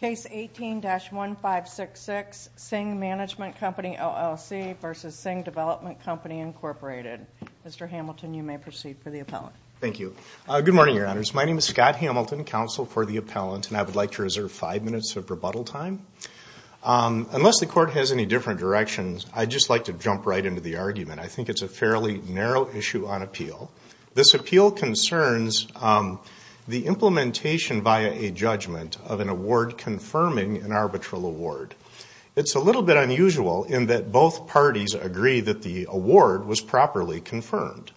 Case 18-1566, Singh Management Company LLC v. Singh Development Company Inc. Mr. Hamilton, you may proceed for the appellant. Thank you. Good morning, Your Honors. My name is Scott Hamilton, counsel for the appellant, and I would like to reserve five minutes of rebuttal time. Unless the Court has any different directions, I'd just like to jump right into the argument. I think it's a fairly narrow issue on appeal. This appeal concerns the implementation via a judgment of an award confirming an arbitral award. It's a little bit unusual in that both parties agree that the award was properly confirmed.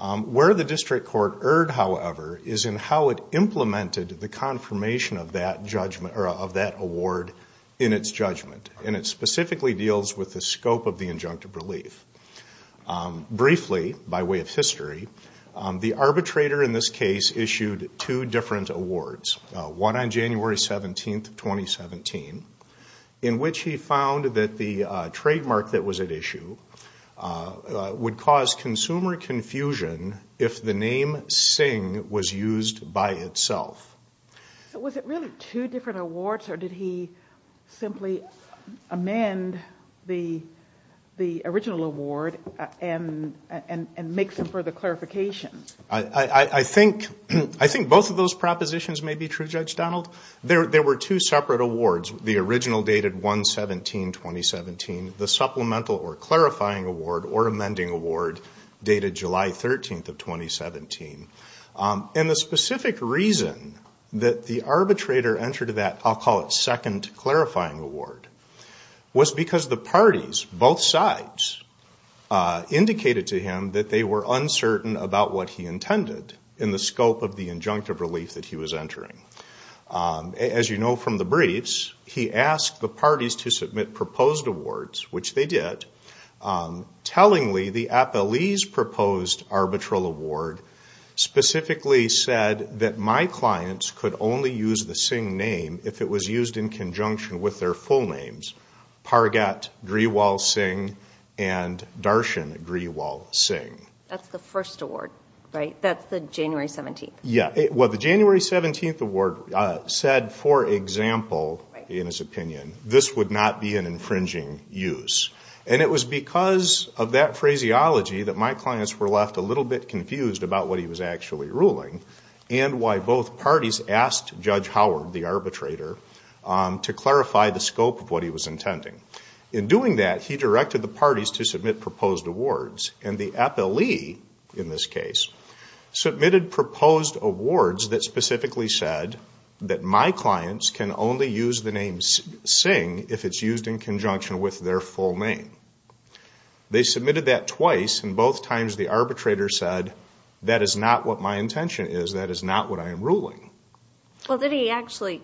Where the District Court erred, however, is in how it implemented the confirmation of that award in its judgment, and it specifically deals with the scope of the injunctive relief. Briefly, by way of history, the arbitrator in this case issued two different awards, one on January 17, 2017, in which he found that the trademark that was at issue would cause consumer confusion if the name Singh was used by itself. Was it really two different awards, or did he simply amend the original award and make some further clarifications? I think both of those propositions may be true, Judge Donald. There were two separate awards, the original dated 1-17-2017, the supplemental or clarifying award or amending award dated July 13, 2017. The specific reason that the arbitrator entered that, I'll call it second clarifying award, was because the parties, both sides, indicated to him that they were uncertain about what he intended in the scope of the injunctive relief that he was entering. As you know from the briefs, he asked the parties to submit proposed awards, which they did, tellingly, the Appellee's Proposed Arbitral Award specifically said that my clients could only use the Singh name if it was used in conjunction with their full names, Pargat Grewal Singh and Darshan Grewal Singh. That's the first award, right? That's the January 17th? Yeah. Well, the January 17th award said, for example, in his opinion, this would not be an infringing use, and it was because of that phraseology that my clients were left a little bit confused about what he was actually ruling and why both parties asked Judge Howard, the arbitrator, to clarify the scope of what he was intending. In doing that, he directed the parties to submit proposed awards, and the Appellee, in this case, submitted proposed awards that specifically said that my clients can only use the name Singh if it's used in conjunction with their full name. They submitted that twice, and both times the arbitrator said, that is not what my intention is, that is not what I am ruling. Well, did he actually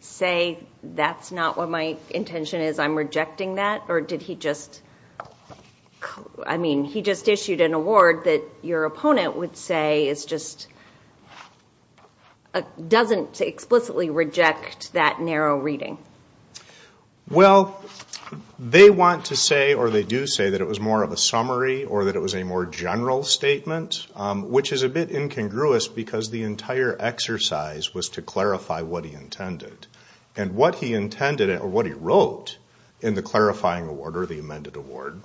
say, that's not what my intention is, I'm rejecting that, or did he just, I mean, he just issued an award that your opponent would say is just, doesn't explicitly reject that narrow reading. Well, they want to say, or they do say, that it was more of a summary, or that it was a more general statement, which is a bit incongruous, because the entire exercise was to clarify what he intended. And what he intended, or what he wrote in the clarifying award, or the amended award,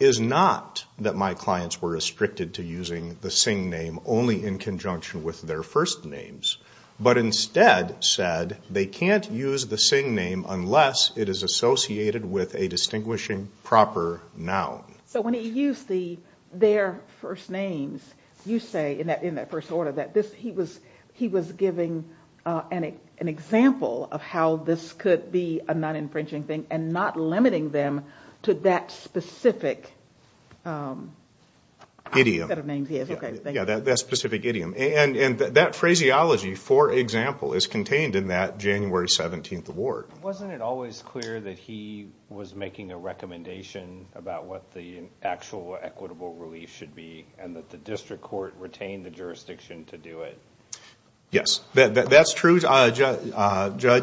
is not that my clients were restricted to using the Singh name only in conjunction with their first names, but instead said they can't use the Singh name unless it is associated with a distinguishing proper noun. So when he used their first names, you say, in that first order, he was giving an example of how this could be a non-infringing thing, and not limiting them to that specific idiom. Yeah, that specific idiom. And that phraseology, for example, is contained in that January 17th award. Wasn't it always clear that he was making a recommendation about what the actual equitable relief should be, and that the district court retained the jurisdiction to do it? Yes, that's true, Judge.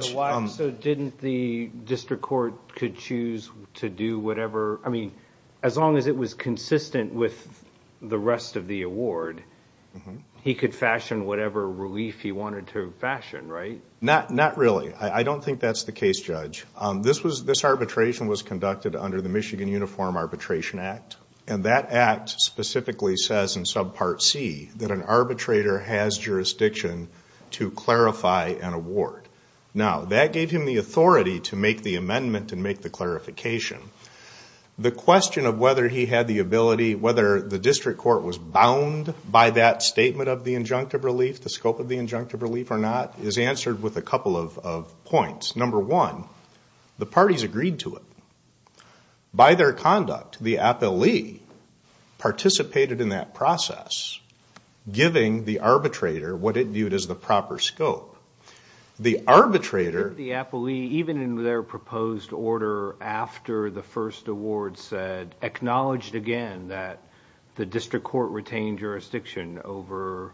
So didn't the district court could choose to do whatever? I mean, as long as it was consistent with the rest of the award, he could fashion whatever relief he wanted to fashion, right? Not really. I don't think that's the case, Judge. This arbitration was conducted under the Michigan Uniform Arbitration Act, and that act specifically says in subpart C that an arbitrator has jurisdiction to clarify an award. Now, that gave him the authority to make the amendment and make the clarification. The question of whether he had the ability, whether the district court was bound by that statement of the injunctive relief, the scope of the injunctive relief or not, is answered with a couple of points. Number one, the parties agreed to it. By their conduct, the appellee participated in that process, giving the arbitrator what it viewed as the proper scope. The arbitrator... The appellee, even in their proposed order after the first award said, acknowledged again that the district court retained jurisdiction over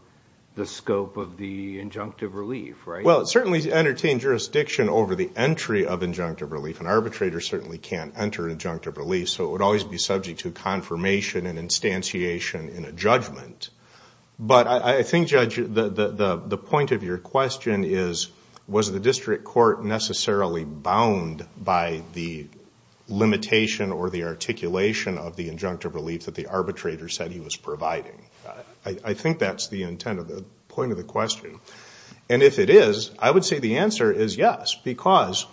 the scope of the injunctive relief, right? Well, it certainly entertained jurisdiction over the entry of injunctive relief, and arbitrators certainly can't enter injunctive relief, so it would always be subject to confirmation and instantiation in a judgment. But I think, Judge, the point of your question is, was the district court necessarily bound by the limitation or the articulation of the injunctive relief that the arbitrator said he was providing? I think that's the intent of the point of the question. And if it is, I would say the answer is yes, because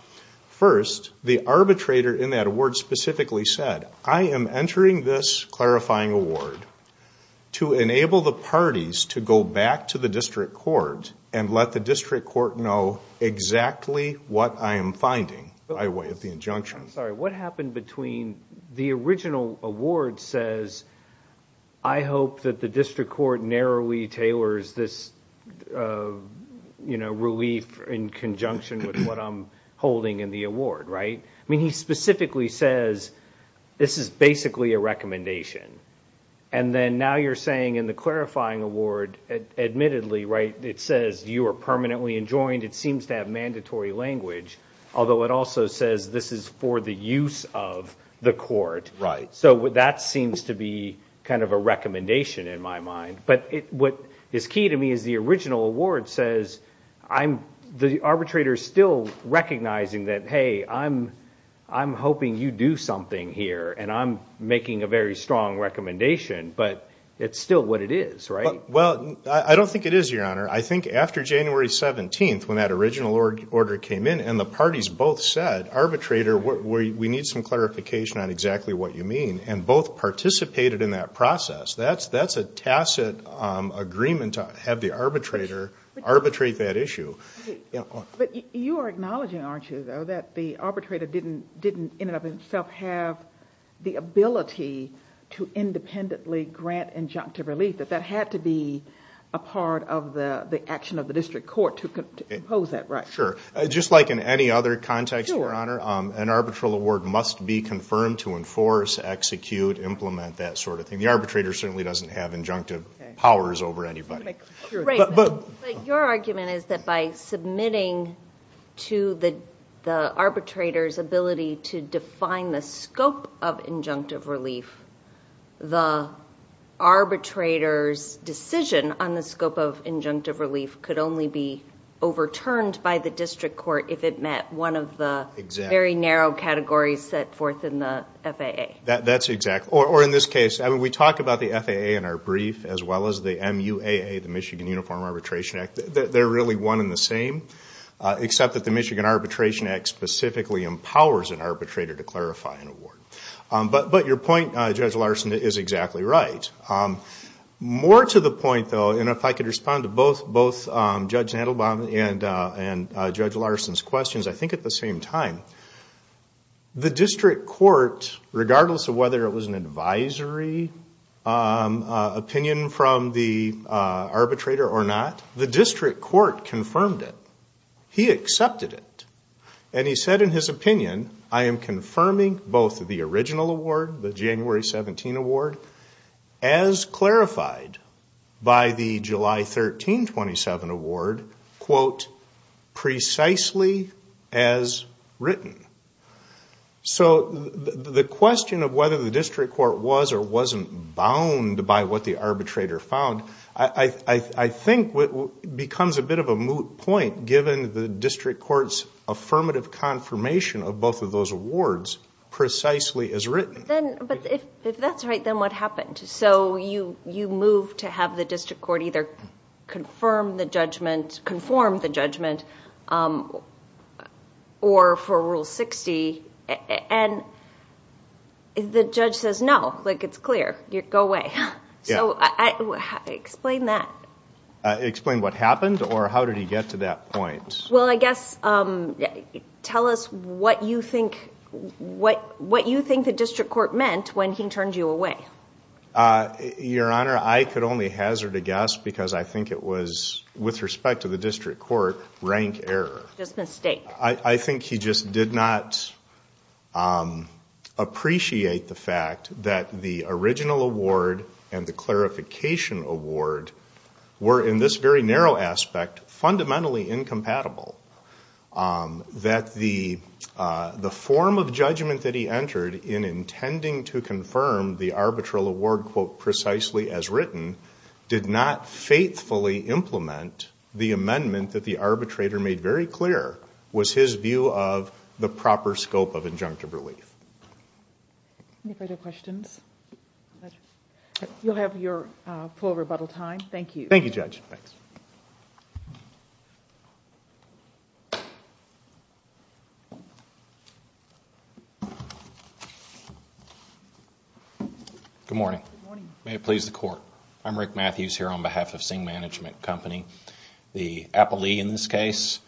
first, the arbitrator in that award specifically said, I am entering this clarifying award to enable the parties to go back to the district court and let the district court know exactly what I am finding by way of the injunction. I'm sorry, what happened between the original award says, I hope that the district court narrowly tailors this relief in conjunction with what I'm holding in the award, right? I mean, he specifically says, this is basically a recommendation. And then now you're saying in the clarifying award, admittedly, right, it says you are permanently enjoined, it seems to have mandatory language, although it also says this is for the use of the court. Right. So that seems to be kind of a recommendation in my mind. But what is key to me is the original award says, the arbitrator is still recognizing that, hey, I'm hoping you do something here, and I'm making a very strong recommendation. But it's still what it is, right? Well, I don't think it is, Your Honor. I think after January 17th, when that original order came in and the parties both said, arbitrator, we need some clarification on exactly what you mean, and both participated in that process, that's a tacit agreement to have the arbitrator arbitrate that issue. But you are acknowledging, aren't you, though, that the arbitrator didn't in and of itself have the ability to independently grant injunctive relief, that that had to be a part of the action of the district court to impose that, right? Sure. Just like in any other context, Your Honor, an arbitral award must be confirmed to enforce, execute, implement, that sort of thing. The arbitrator certainly doesn't have injunctive powers over anybody. But your argument is that by submitting to the arbitrator's ability to define the scope of injunctive relief, the arbitrator's decision on the scope of injunctive relief could only be overturned by the district court if it met one of the very narrow categories set forth in the FAA. That's exact. Or in this case, we talk about the FAA in our brief, as well as the MUAA, the Michigan Uniform Arbitration Act. They're really one and the same, except that the Michigan Arbitration Act specifically empowers an arbitrator to clarify an award. But your point, Judge Larson, is exactly right. More to the point, though, and if I could respond to both Judge Nadelbaum and Judge Larson's questions, I think at the same time, the district court, regardless of whether it was an advisory opinion from the arbitrator or not, the district court confirmed it. He accepted it. And he said in his opinion, I am confirming both the original award, the January 17 award, as clarified by the July 13, 27 award, quote, precisely as written. So the question of whether the district court was or wasn't bound by what the arbitrator found, I think becomes a bit of a moot point, given the district court's affirmative confirmation of both of those awards, precisely as written. But if that's right, then what happened? So you move to have the district court either confirm the judgment, conform the judgment, or for Rule 60, and the judge says, no, it's clear. Go away. Explain that. Explain what happened, or how did he get to that point? Well, I guess tell us what you think the district court meant when he turned you away. Your Honor, I could only hazard a guess because I think it was, with respect to the district court, rank error. Just a mistake. I think he just did not appreciate the fact that the original award and the clarification award were, in this very narrow aspect, fundamentally incompatible. That the form of judgment that he entered in intending to confirm the arbitral award, quote, precisely as written, did not faithfully implement the amendment that the arbitrator made very clear was his view of the proper scope of injunctive relief. Any further questions? You'll have your full rebuttal time. Thank you. Thank you, Judge. Good morning. Good morning. May it please the Court. I'm Rick Matthews here on behalf of Singh Management Company, the Appalee in this case.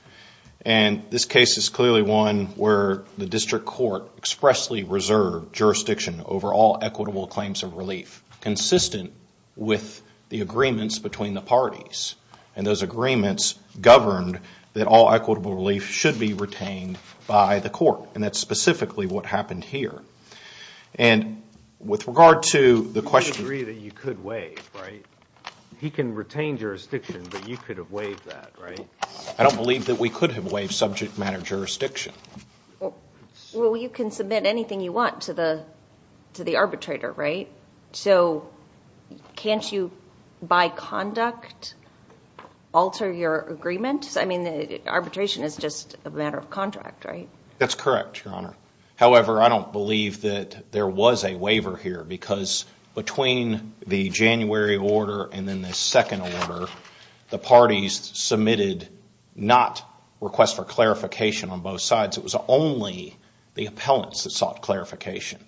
And this case is clearly one where the district court expressly reserved jurisdiction over all equitable claims of relief, consistent with the agreements between the parties. And those agreements governed that all equitable relief should be retained by the court. And that's specifically what happened here. And with regard to the question- You agree that you could waive, right? He can retain jurisdiction, but you could have waived that, right? I don't believe that we could have waived subject matter jurisdiction. Well, you can submit anything you want to the arbitrator, right? So can't you, by conduct, alter your agreement? I mean, arbitration is just a matter of contract, right? That's correct, Your Honor. However, I don't believe that there was a waiver here, because between the January order and then the second order, the parties submitted not requests for clarification on both sides. It was only the appellants that sought clarification.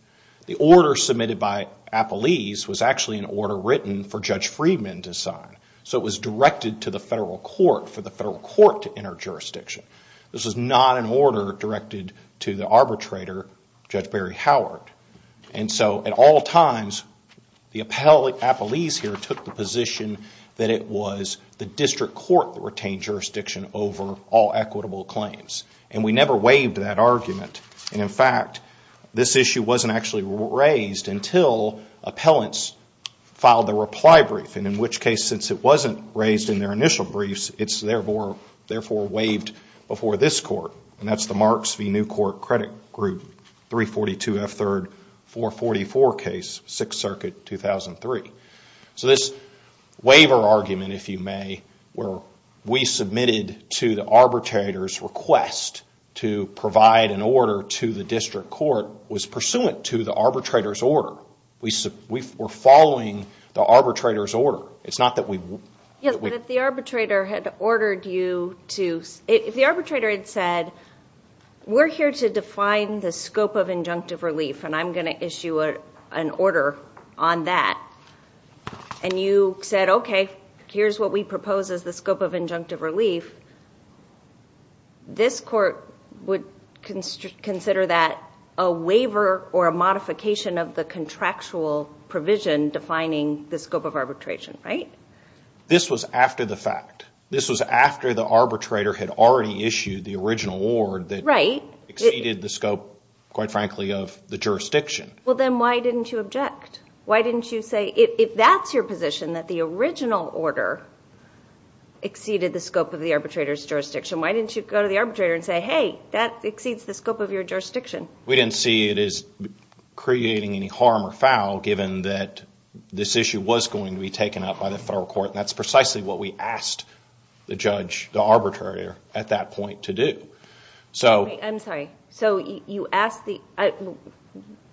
The order submitted by Appalese was actually an order written for Judge Friedman to sign. So it was directed to the federal court for the federal court to enter jurisdiction. This was not an order directed to the arbitrator, Judge Barry Howard. And so, at all times, the appellate, Appalese here, took the position that it was the district court that retained jurisdiction over all equitable claims. And we never waived that argument. And, in fact, this issue wasn't actually raised until appellants filed the reply brief, and in which case, since it wasn't raised in their initial briefs, it's therefore waived before this court. And that's the Marks v. New Court Credit Group, 342 F. 3rd, 444 case, 6th Circuit, 2003. So this waiver argument, if you may, where we submitted to the arbitrator's request to provide an order to the district court, was pursuant to the arbitrator's order. We're following the arbitrator's order. It's not that we... Yes, but if the arbitrator had ordered you to... If the arbitrator had said, we're here to define the scope of injunctive relief, and I'm going to issue an order on that, and you said, okay, here's what we propose as the scope of injunctive relief, this court would consider that a waiver or a modification of the contractual provision defining the scope of arbitration, right? This was after the fact. This was after the arbitrator had already issued the original award that... Right. ...exceeded the scope, quite frankly, of the jurisdiction. Well, then why didn't you object? Why didn't you say, if that's your position, that the original order exceeded the scope of the arbitrator's jurisdiction, why didn't you go to the arbitrator and say, hey, that exceeds the scope of your jurisdiction? We didn't see it as creating any harm or foul, given that this issue was going to be taken up by the federal court, and that's precisely what we asked the judge, the arbitrator, at that point to do. I'm sorry. So you asked the...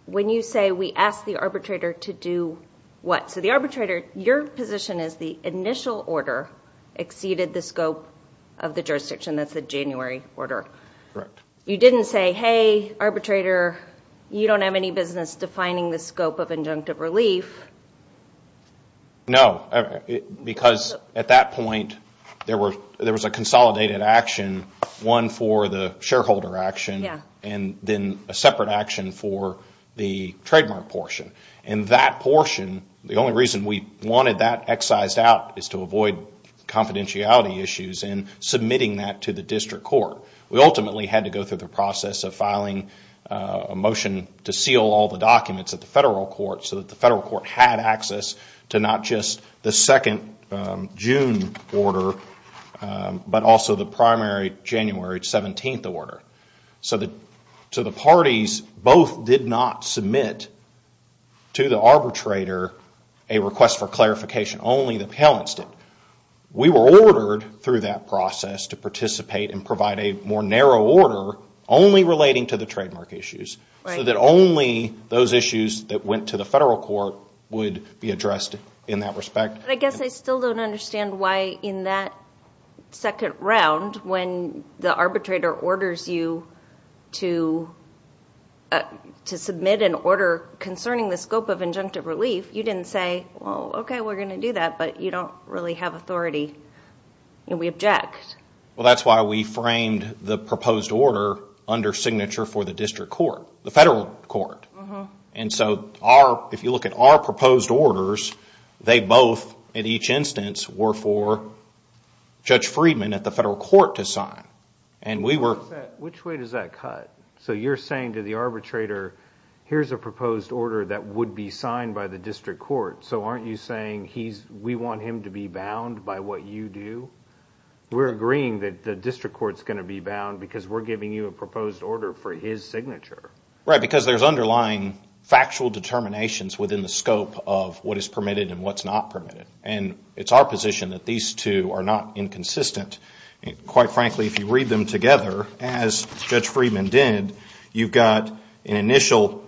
When you say we asked the arbitrator to do what? So the arbitrator, your position is the initial order exceeded the scope of the jurisdiction. That's the January order. Correct. You didn't say, hey, arbitrator, you don't have any business defining the scope of injunctive relief. No, because at that point there was a consolidated action, one for the shareholder action and then a separate action for the trademark portion. And that portion, the only reason we wanted that excised out is to avoid confidentiality issues in submitting that to the district court. We ultimately had to go through the process of filing a motion to seal all the documents at the federal court so that the federal court had access to not just the second June order, but also the primary January 17th order. So the parties both did not submit to the arbitrator a request for clarification. Only the parents did. We were ordered through that process to participate and provide a more narrow order only relating to the trademark issues so that only those issues that went to the federal court would be addressed in that respect. But I guess I still don't understand why in that second round when the arbitrator orders you to submit an order concerning the scope of injunctive relief, you didn't say, well, okay, we're going to do that, but you don't really have authority and we object. Well, that's why we framed the proposed order under signature for the district court, the federal court. And so if you look at our proposed orders, they both in each instance were for Judge Friedman at the federal court to sign. Which way does that cut? So you're saying to the arbitrator, here's a proposed order that would be signed by the district court, so aren't you saying we want him to be bound by what you do? We're agreeing that the district court's going to be bound because we're giving you a proposed order for his signature. Right, because there's underlying factual determinations within the scope of what is permitted and what's not permitted. And it's our position that these two are not inconsistent. Quite frankly, if you read them together, as Judge Friedman did, you've got an initial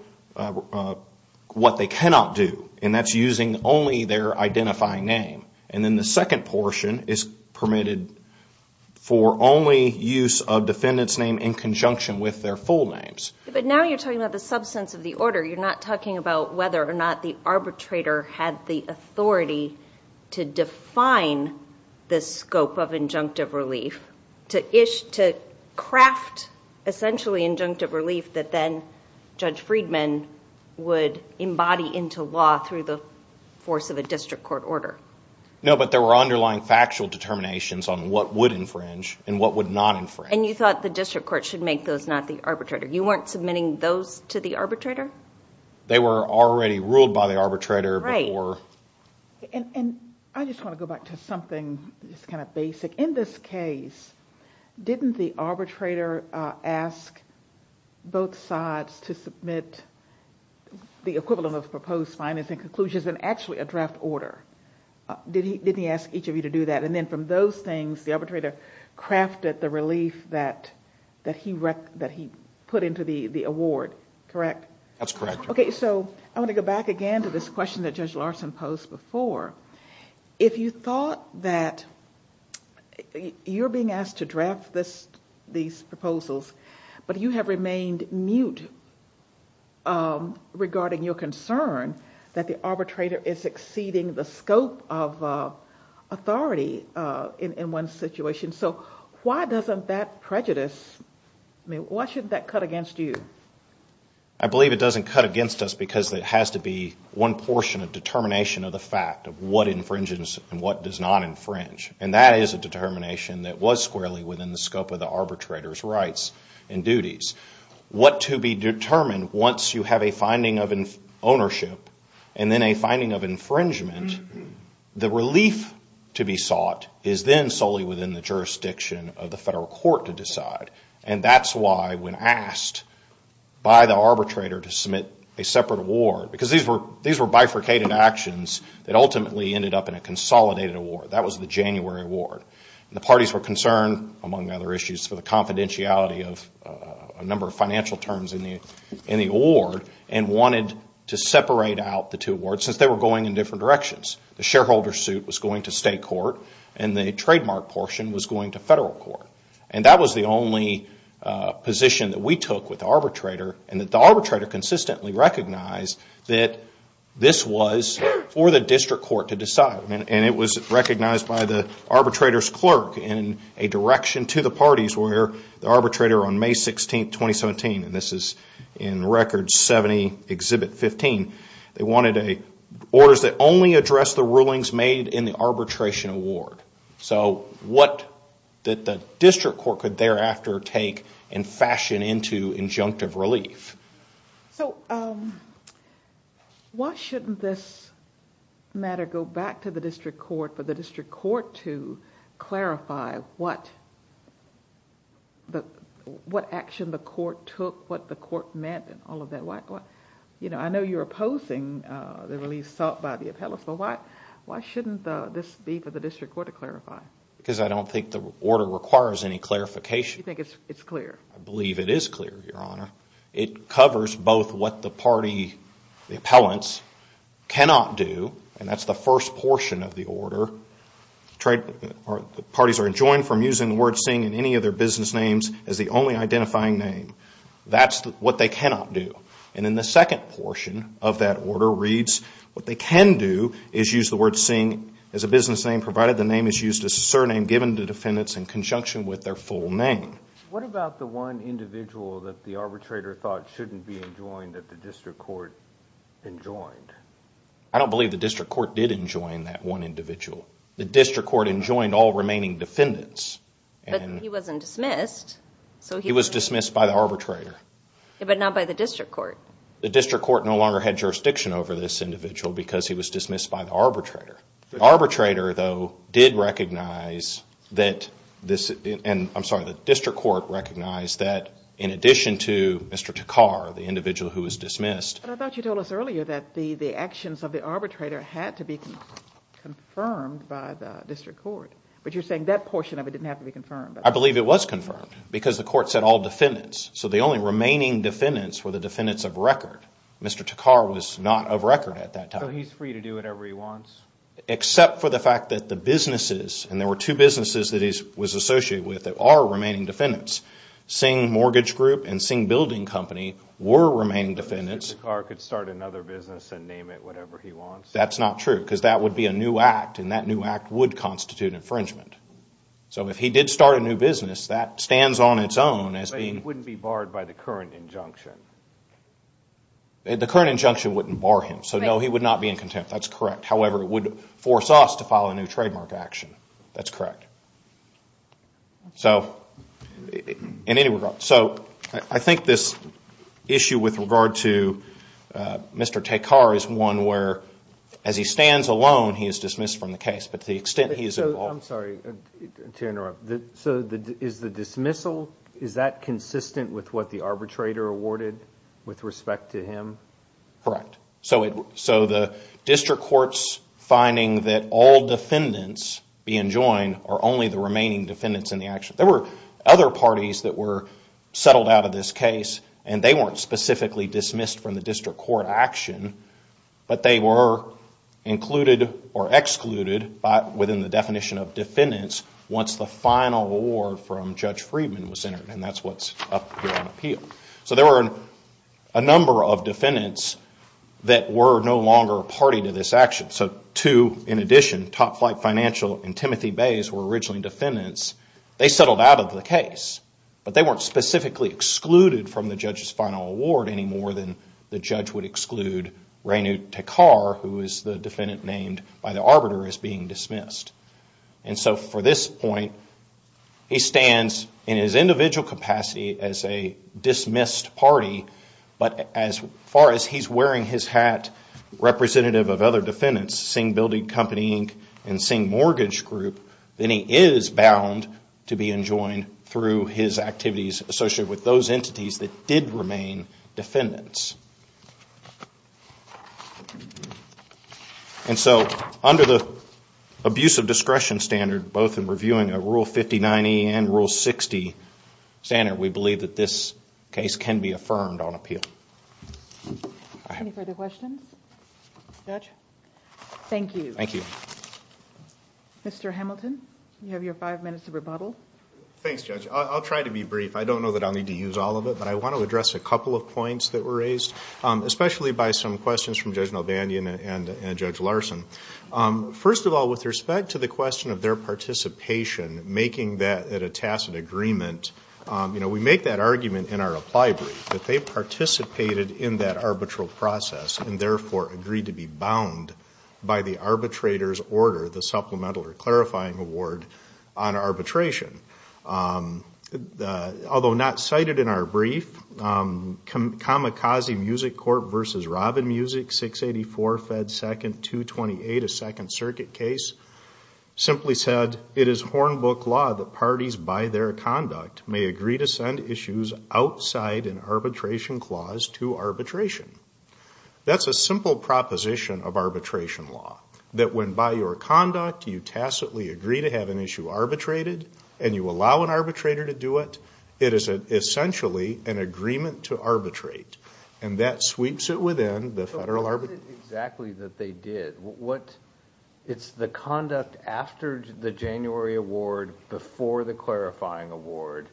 what they cannot do, and that's using only their identifying name. And then the second portion is permitted for only use of defendant's name in conjunction with their full names. But now you're talking about the substance of the order. You're not talking about whether or not the arbitrator had the authority to define the scope of injunctive relief, to craft essentially injunctive relief that then Judge Friedman would embody into law through the force of a district court order. No, but there were underlying factual determinations on what would infringe and what would not infringe. And you thought the district court should make those, not the arbitrator. You weren't submitting those to the arbitrator? They were already ruled by the arbitrator before. And I just want to go back to something just kind of basic. In this case, didn't the arbitrator ask both sides to submit the equivalent of proposed findings and conclusions in actually a draft order? Didn't he ask each of you to do that? And then from those things, the arbitrator crafted the relief that he put into the award, correct? That's correct. Okay, so I want to go back again to this question that Judge Larson posed before. If you thought that you're being asked to draft these proposals, but you have remained mute regarding your concern that the arbitrator is exceeding the scope of authority in one situation. So why doesn't that prejudice, I mean, why shouldn't that cut against you? I believe it doesn't cut against us because it has to be one portion of determination of the fact of what infringes and what does not infringe. And that is a determination that was squarely within the scope of the arbitrator's rights and duties. What to be determined once you have a finding of ownership and then a finding of infringement, the relief to be sought is then solely within the jurisdiction of the federal court to decide. And that's why when asked by the arbitrator to submit a separate award, because these were bifurcated actions that ultimately ended up in a consolidated award. That was the January award. The parties were concerned, among other issues, for the confidentiality of a number of financial terms in the award and wanted to separate out the two awards since they were going in different directions. The shareholder suit was going to state court and the trademark portion was going to federal court. And that was the only position that we took with the arbitrator and that the arbitrator consistently recognized that this was for the district court to decide. And it was recognized by the arbitrator's clerk in a direction to the parties where the arbitrator on May 16, 2017, and this is in Record 70, Exhibit 15, they wanted orders that only addressed the rulings made in the arbitration award. So what the district court could thereafter take and fashion into injunctive relief. So why shouldn't this matter go back to the district court for the district court to clarify what action the court took, what the court meant, and all of that? I know you're opposing the relief sought by the appellants, but why shouldn't this be for the district court to clarify? Because I don't think the order requires any clarification. You think it's clear? I believe it is clear, Your Honor. It covers both what the party, the appellants, cannot do, and that's the first portion of the order. Parties are enjoined from using the word seeing in any of their business names as the only identifying name. That's what they cannot do. And then the second portion of that order reads what they can do is use the word seeing as a business name, provided the name is used as a surname given to defendants in conjunction with their full name. What about the one individual that the arbitrator thought shouldn't be enjoined that the district court enjoined? I don't believe the district court did enjoin that one individual. The district court enjoined all remaining defendants. But he wasn't dismissed. He was dismissed by the arbitrator. But not by the district court. The district court no longer had jurisdiction over this individual because he was dismissed by the arbitrator. The district court recognized that in addition to Mr. Takkar, the individual who was dismissed. But I thought you told us earlier that the actions of the arbitrator had to be confirmed by the district court. But you're saying that portion of it didn't have to be confirmed. I believe it was confirmed because the court said all defendants. So the only remaining defendants were the defendants of record. Mr. Takkar was not of record at that time. So he's free to do whatever he wants? Except for the fact that the businesses, and there were two businesses that he was associated with that are remaining defendants. Singh Mortgage Group and Singh Building Company were remaining defendants. Mr. Takkar could start another business and name it whatever he wants? That's not true because that would be a new act, and that new act would constitute infringement. So if he did start a new business, that stands on its own as being... But he wouldn't be barred by the current injunction? The current injunction wouldn't bar him. So no, he would not be in contempt. That's correct. However, it would force us to file a new trademark action. That's correct. So in any regard... So I think this issue with regard to Mr. Takkar is one where as he stands alone, he is dismissed from the case. But to the extent he is involved... I'm sorry to interrupt. So is the dismissal, is that consistent with what the arbitrator awarded with respect to him? Correct. So the district court's finding that all defendants being joined are only the remaining defendants in the action. There were other parties that were settled out of this case, and they weren't specifically dismissed from the district court action, but they were included or excluded within the definition of defendants once the final award from Judge Friedman was entered, and that's what's up here on appeal. So there were a number of defendants that were no longer a party to this action. So two in addition, Top Flight Financial and Timothy Bays, were originally defendants. They settled out of the case, but they weren't specifically excluded from the judge's final award any more than the judge would exclude Renu Takkar, who is the defendant named by the arbiter, as being dismissed. And so for this point, he stands in his individual capacity as a dismissed party, but as far as he's wearing his hat representative of other defendants, Singh Building Company Inc. and Singh Mortgage Group, then he is bound to be enjoined through his activities associated with those entities that did remain defendants. And so under the abuse of discretion standard, both in reviewing a Rule 5090 and Rule 60 standard, we believe that this case can be affirmed on appeal. Any further questions? Judge? Thank you. Thank you. Mr. Hamilton, you have your five minutes of rebuttal. Thanks, Judge. I'll try to be brief. I don't know that I'll need to use all of it, but I want to address a couple of points that were raised, especially by some questions from Judge Nalbandian and Judge Larson. First of all, with respect to the question of their participation, making that at a tacit agreement, we make that argument in our apply brief, that they participated in that arbitral process and therefore agreed to be bound by the arbitrator's order, the supplemental or clarifying award on arbitration. Although not cited in our brief, Kamikaze Music Court v. Robin Music, 684 Fed 2nd, 228, simply said, it is Hornbook law that parties by their conduct may agree to send issues outside an arbitration clause to arbitration. That's a simple proposition of arbitration law, that when by your conduct you tacitly agree to have an issue arbitrated and you allow an arbitrator to do it, it is essentially an agreement to arbitrate, and that sweeps it within the federal arbitration. What is it exactly that they did? It's the conduct after the January award, before the clarifying award.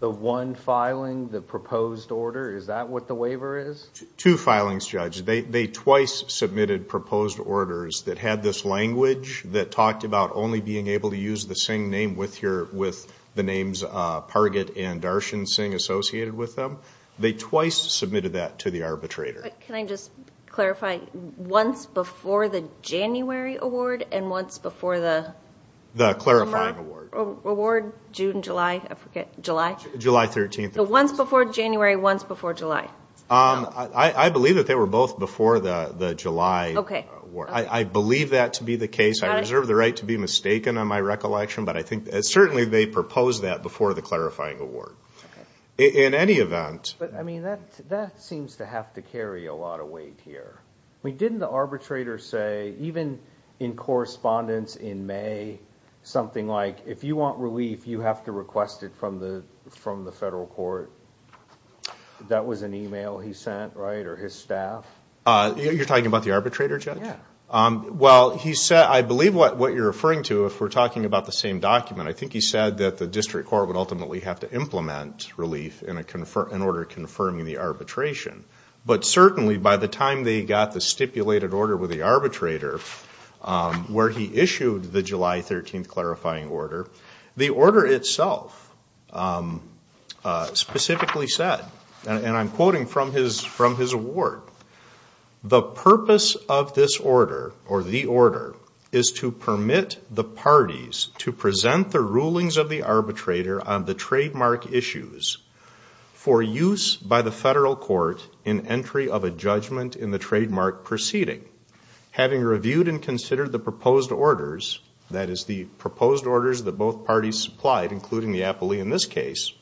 The one filing, the proposed order, is that what the waiver is? Two filings, Judge. They twice submitted proposed orders that had this language that talked about only being able to use the same name with the names Parget and Darshan Singh associated with them. They twice submitted that to the arbitrator. Can I just clarify, once before the January award and once before the Lamarck award? The clarifying award. June, July, I forget, July? July 13th. The once before January, once before July. I believe that they were both before the July award. Okay. I believe that to be the case. I reserve the right to be mistaken on my recollection, but I think certainly they proposed that before the clarifying award. In any event. But, I mean, that seems to have to carry a lot of weight here. Didn't the arbitrator say, even in correspondence in May, something like, if you want relief, you have to request it from the federal court? That was an email he sent, right, or his staff? You're talking about the arbitrator, Judge? Yeah. Well, he said, I believe what you're referring to, if we're talking about the same document, I think he said that the district court would ultimately have to implement relief in order of confirming the arbitration. But certainly, by the time they got the stipulated order with the arbitrator, where he issued the July 13th clarifying order, the order itself specifically said, and I'm quoting from his award, The purpose of this order, or the order, is to permit the parties to present the rulings of the arbitrator on the trademark issues for use by the federal court in entry of a judgment in the trademark proceeding. Having reviewed and considered the proposed orders, that is the proposed orders that both parties supplied, including the appellee in this case,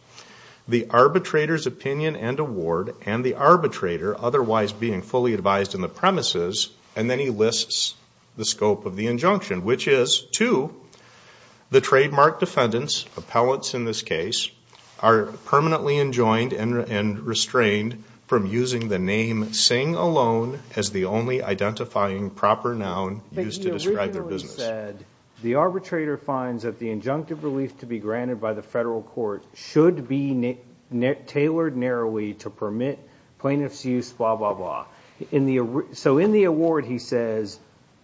the arbitrator's opinion and award, and the arbitrator otherwise being fully advised in the premises, and then he lists the scope of the injunction, which is to the trademark defendants, appellates in this case, are permanently enjoined and restrained from using the name Singh alone as the only identifying proper noun used to describe their business. But he originally said, the arbitrator finds that the injunctive relief to be granted by the federal court should be tailored narrowly to permit plaintiff's use, blah, blah, blah. So in the award he says,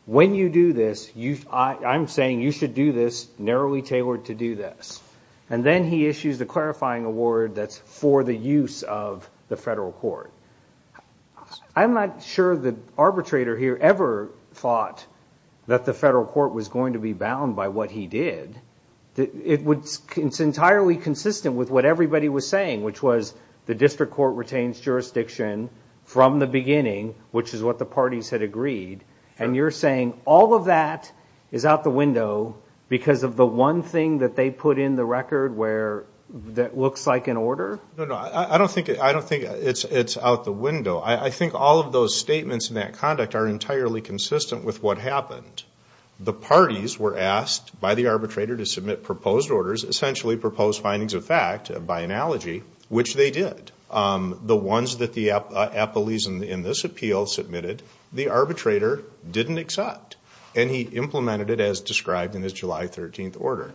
when you do this, I'm saying you should do this narrowly tailored to do this. And then he issues the clarifying award that's for the use of the federal court. I'm not sure the arbitrator here ever thought that the federal court was going to be bound by what he did. It's entirely consistent with what everybody was saying, which was the district court retains jurisdiction from the beginning, which is what the parties had agreed. And you're saying all of that is out the window because of the one thing that they put in the record that looks like an order? No, no, I don't think it's out the window. I think all of those statements and that conduct are entirely consistent with what happened. The parties were asked by the arbitrator to submit proposed orders, essentially proposed findings of fact by analogy, which they did. The ones that the appellees in this appeal submitted, the arbitrator didn't accept. And he implemented it as described in his July 13th order.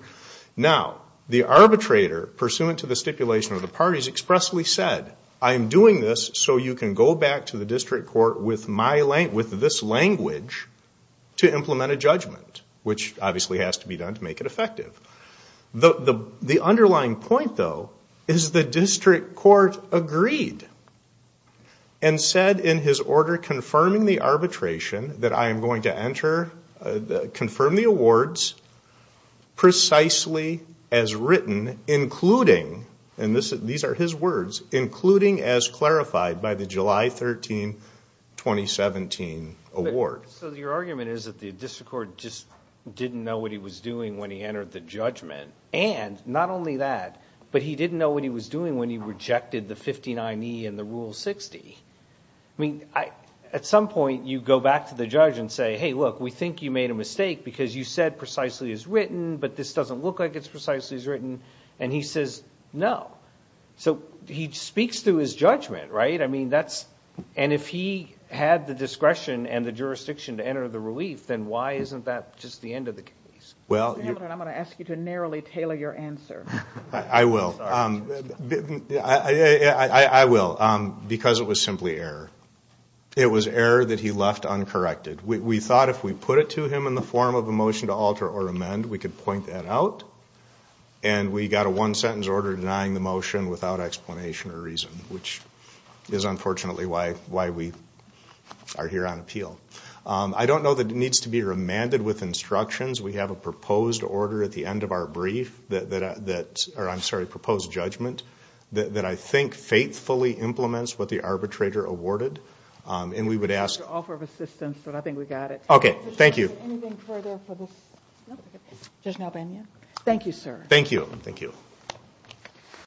Now, the arbitrator, pursuant to the stipulation of the parties, expressly said, I'm doing this so you can go back to the district court with this language to implement a judgment, which obviously has to be done to make it effective. The underlying point, though, is the district court agreed and said in his order confirming the arbitration that I am going to enter, confirm the awards precisely as written, including, and these are his words, including as clarified by the July 13, 2017 award. So your argument is that the district court just didn't know what he was doing when he entered the judgment. And not only that, but he didn't know what he was doing when he rejected the 59E and the Rule 60. I mean, at some point you go back to the judge and say, hey, look, we think you made a mistake because you said precisely as written, but this doesn't look like it's precisely as written. And he says no. So he speaks through his judgment, right? And if he had the discretion and the jurisdiction to enter the relief, then why isn't that just the end of the case? Mr. Hamilton, I'm going to ask you to narrowly tailor your answer. I will. I will because it was simply error. It was error that he left uncorrected. We thought if we put it to him in the form of a motion to alter or amend, we could point that out. And we got a one-sentence order denying the motion without explanation or reason, which is unfortunately why we are here on appeal. I don't know that it needs to be remanded with instructions. We have a proposed order at the end of our brief, or I'm sorry, proposed judgment, that I think faithfully implements what the arbitrator awarded. And we would ask. It's an offer of assistance, but I think we got it. Okay, thank you. Is there anything further for this? No? Judge Melbania? Thank you, sir. Thank you. Thank you.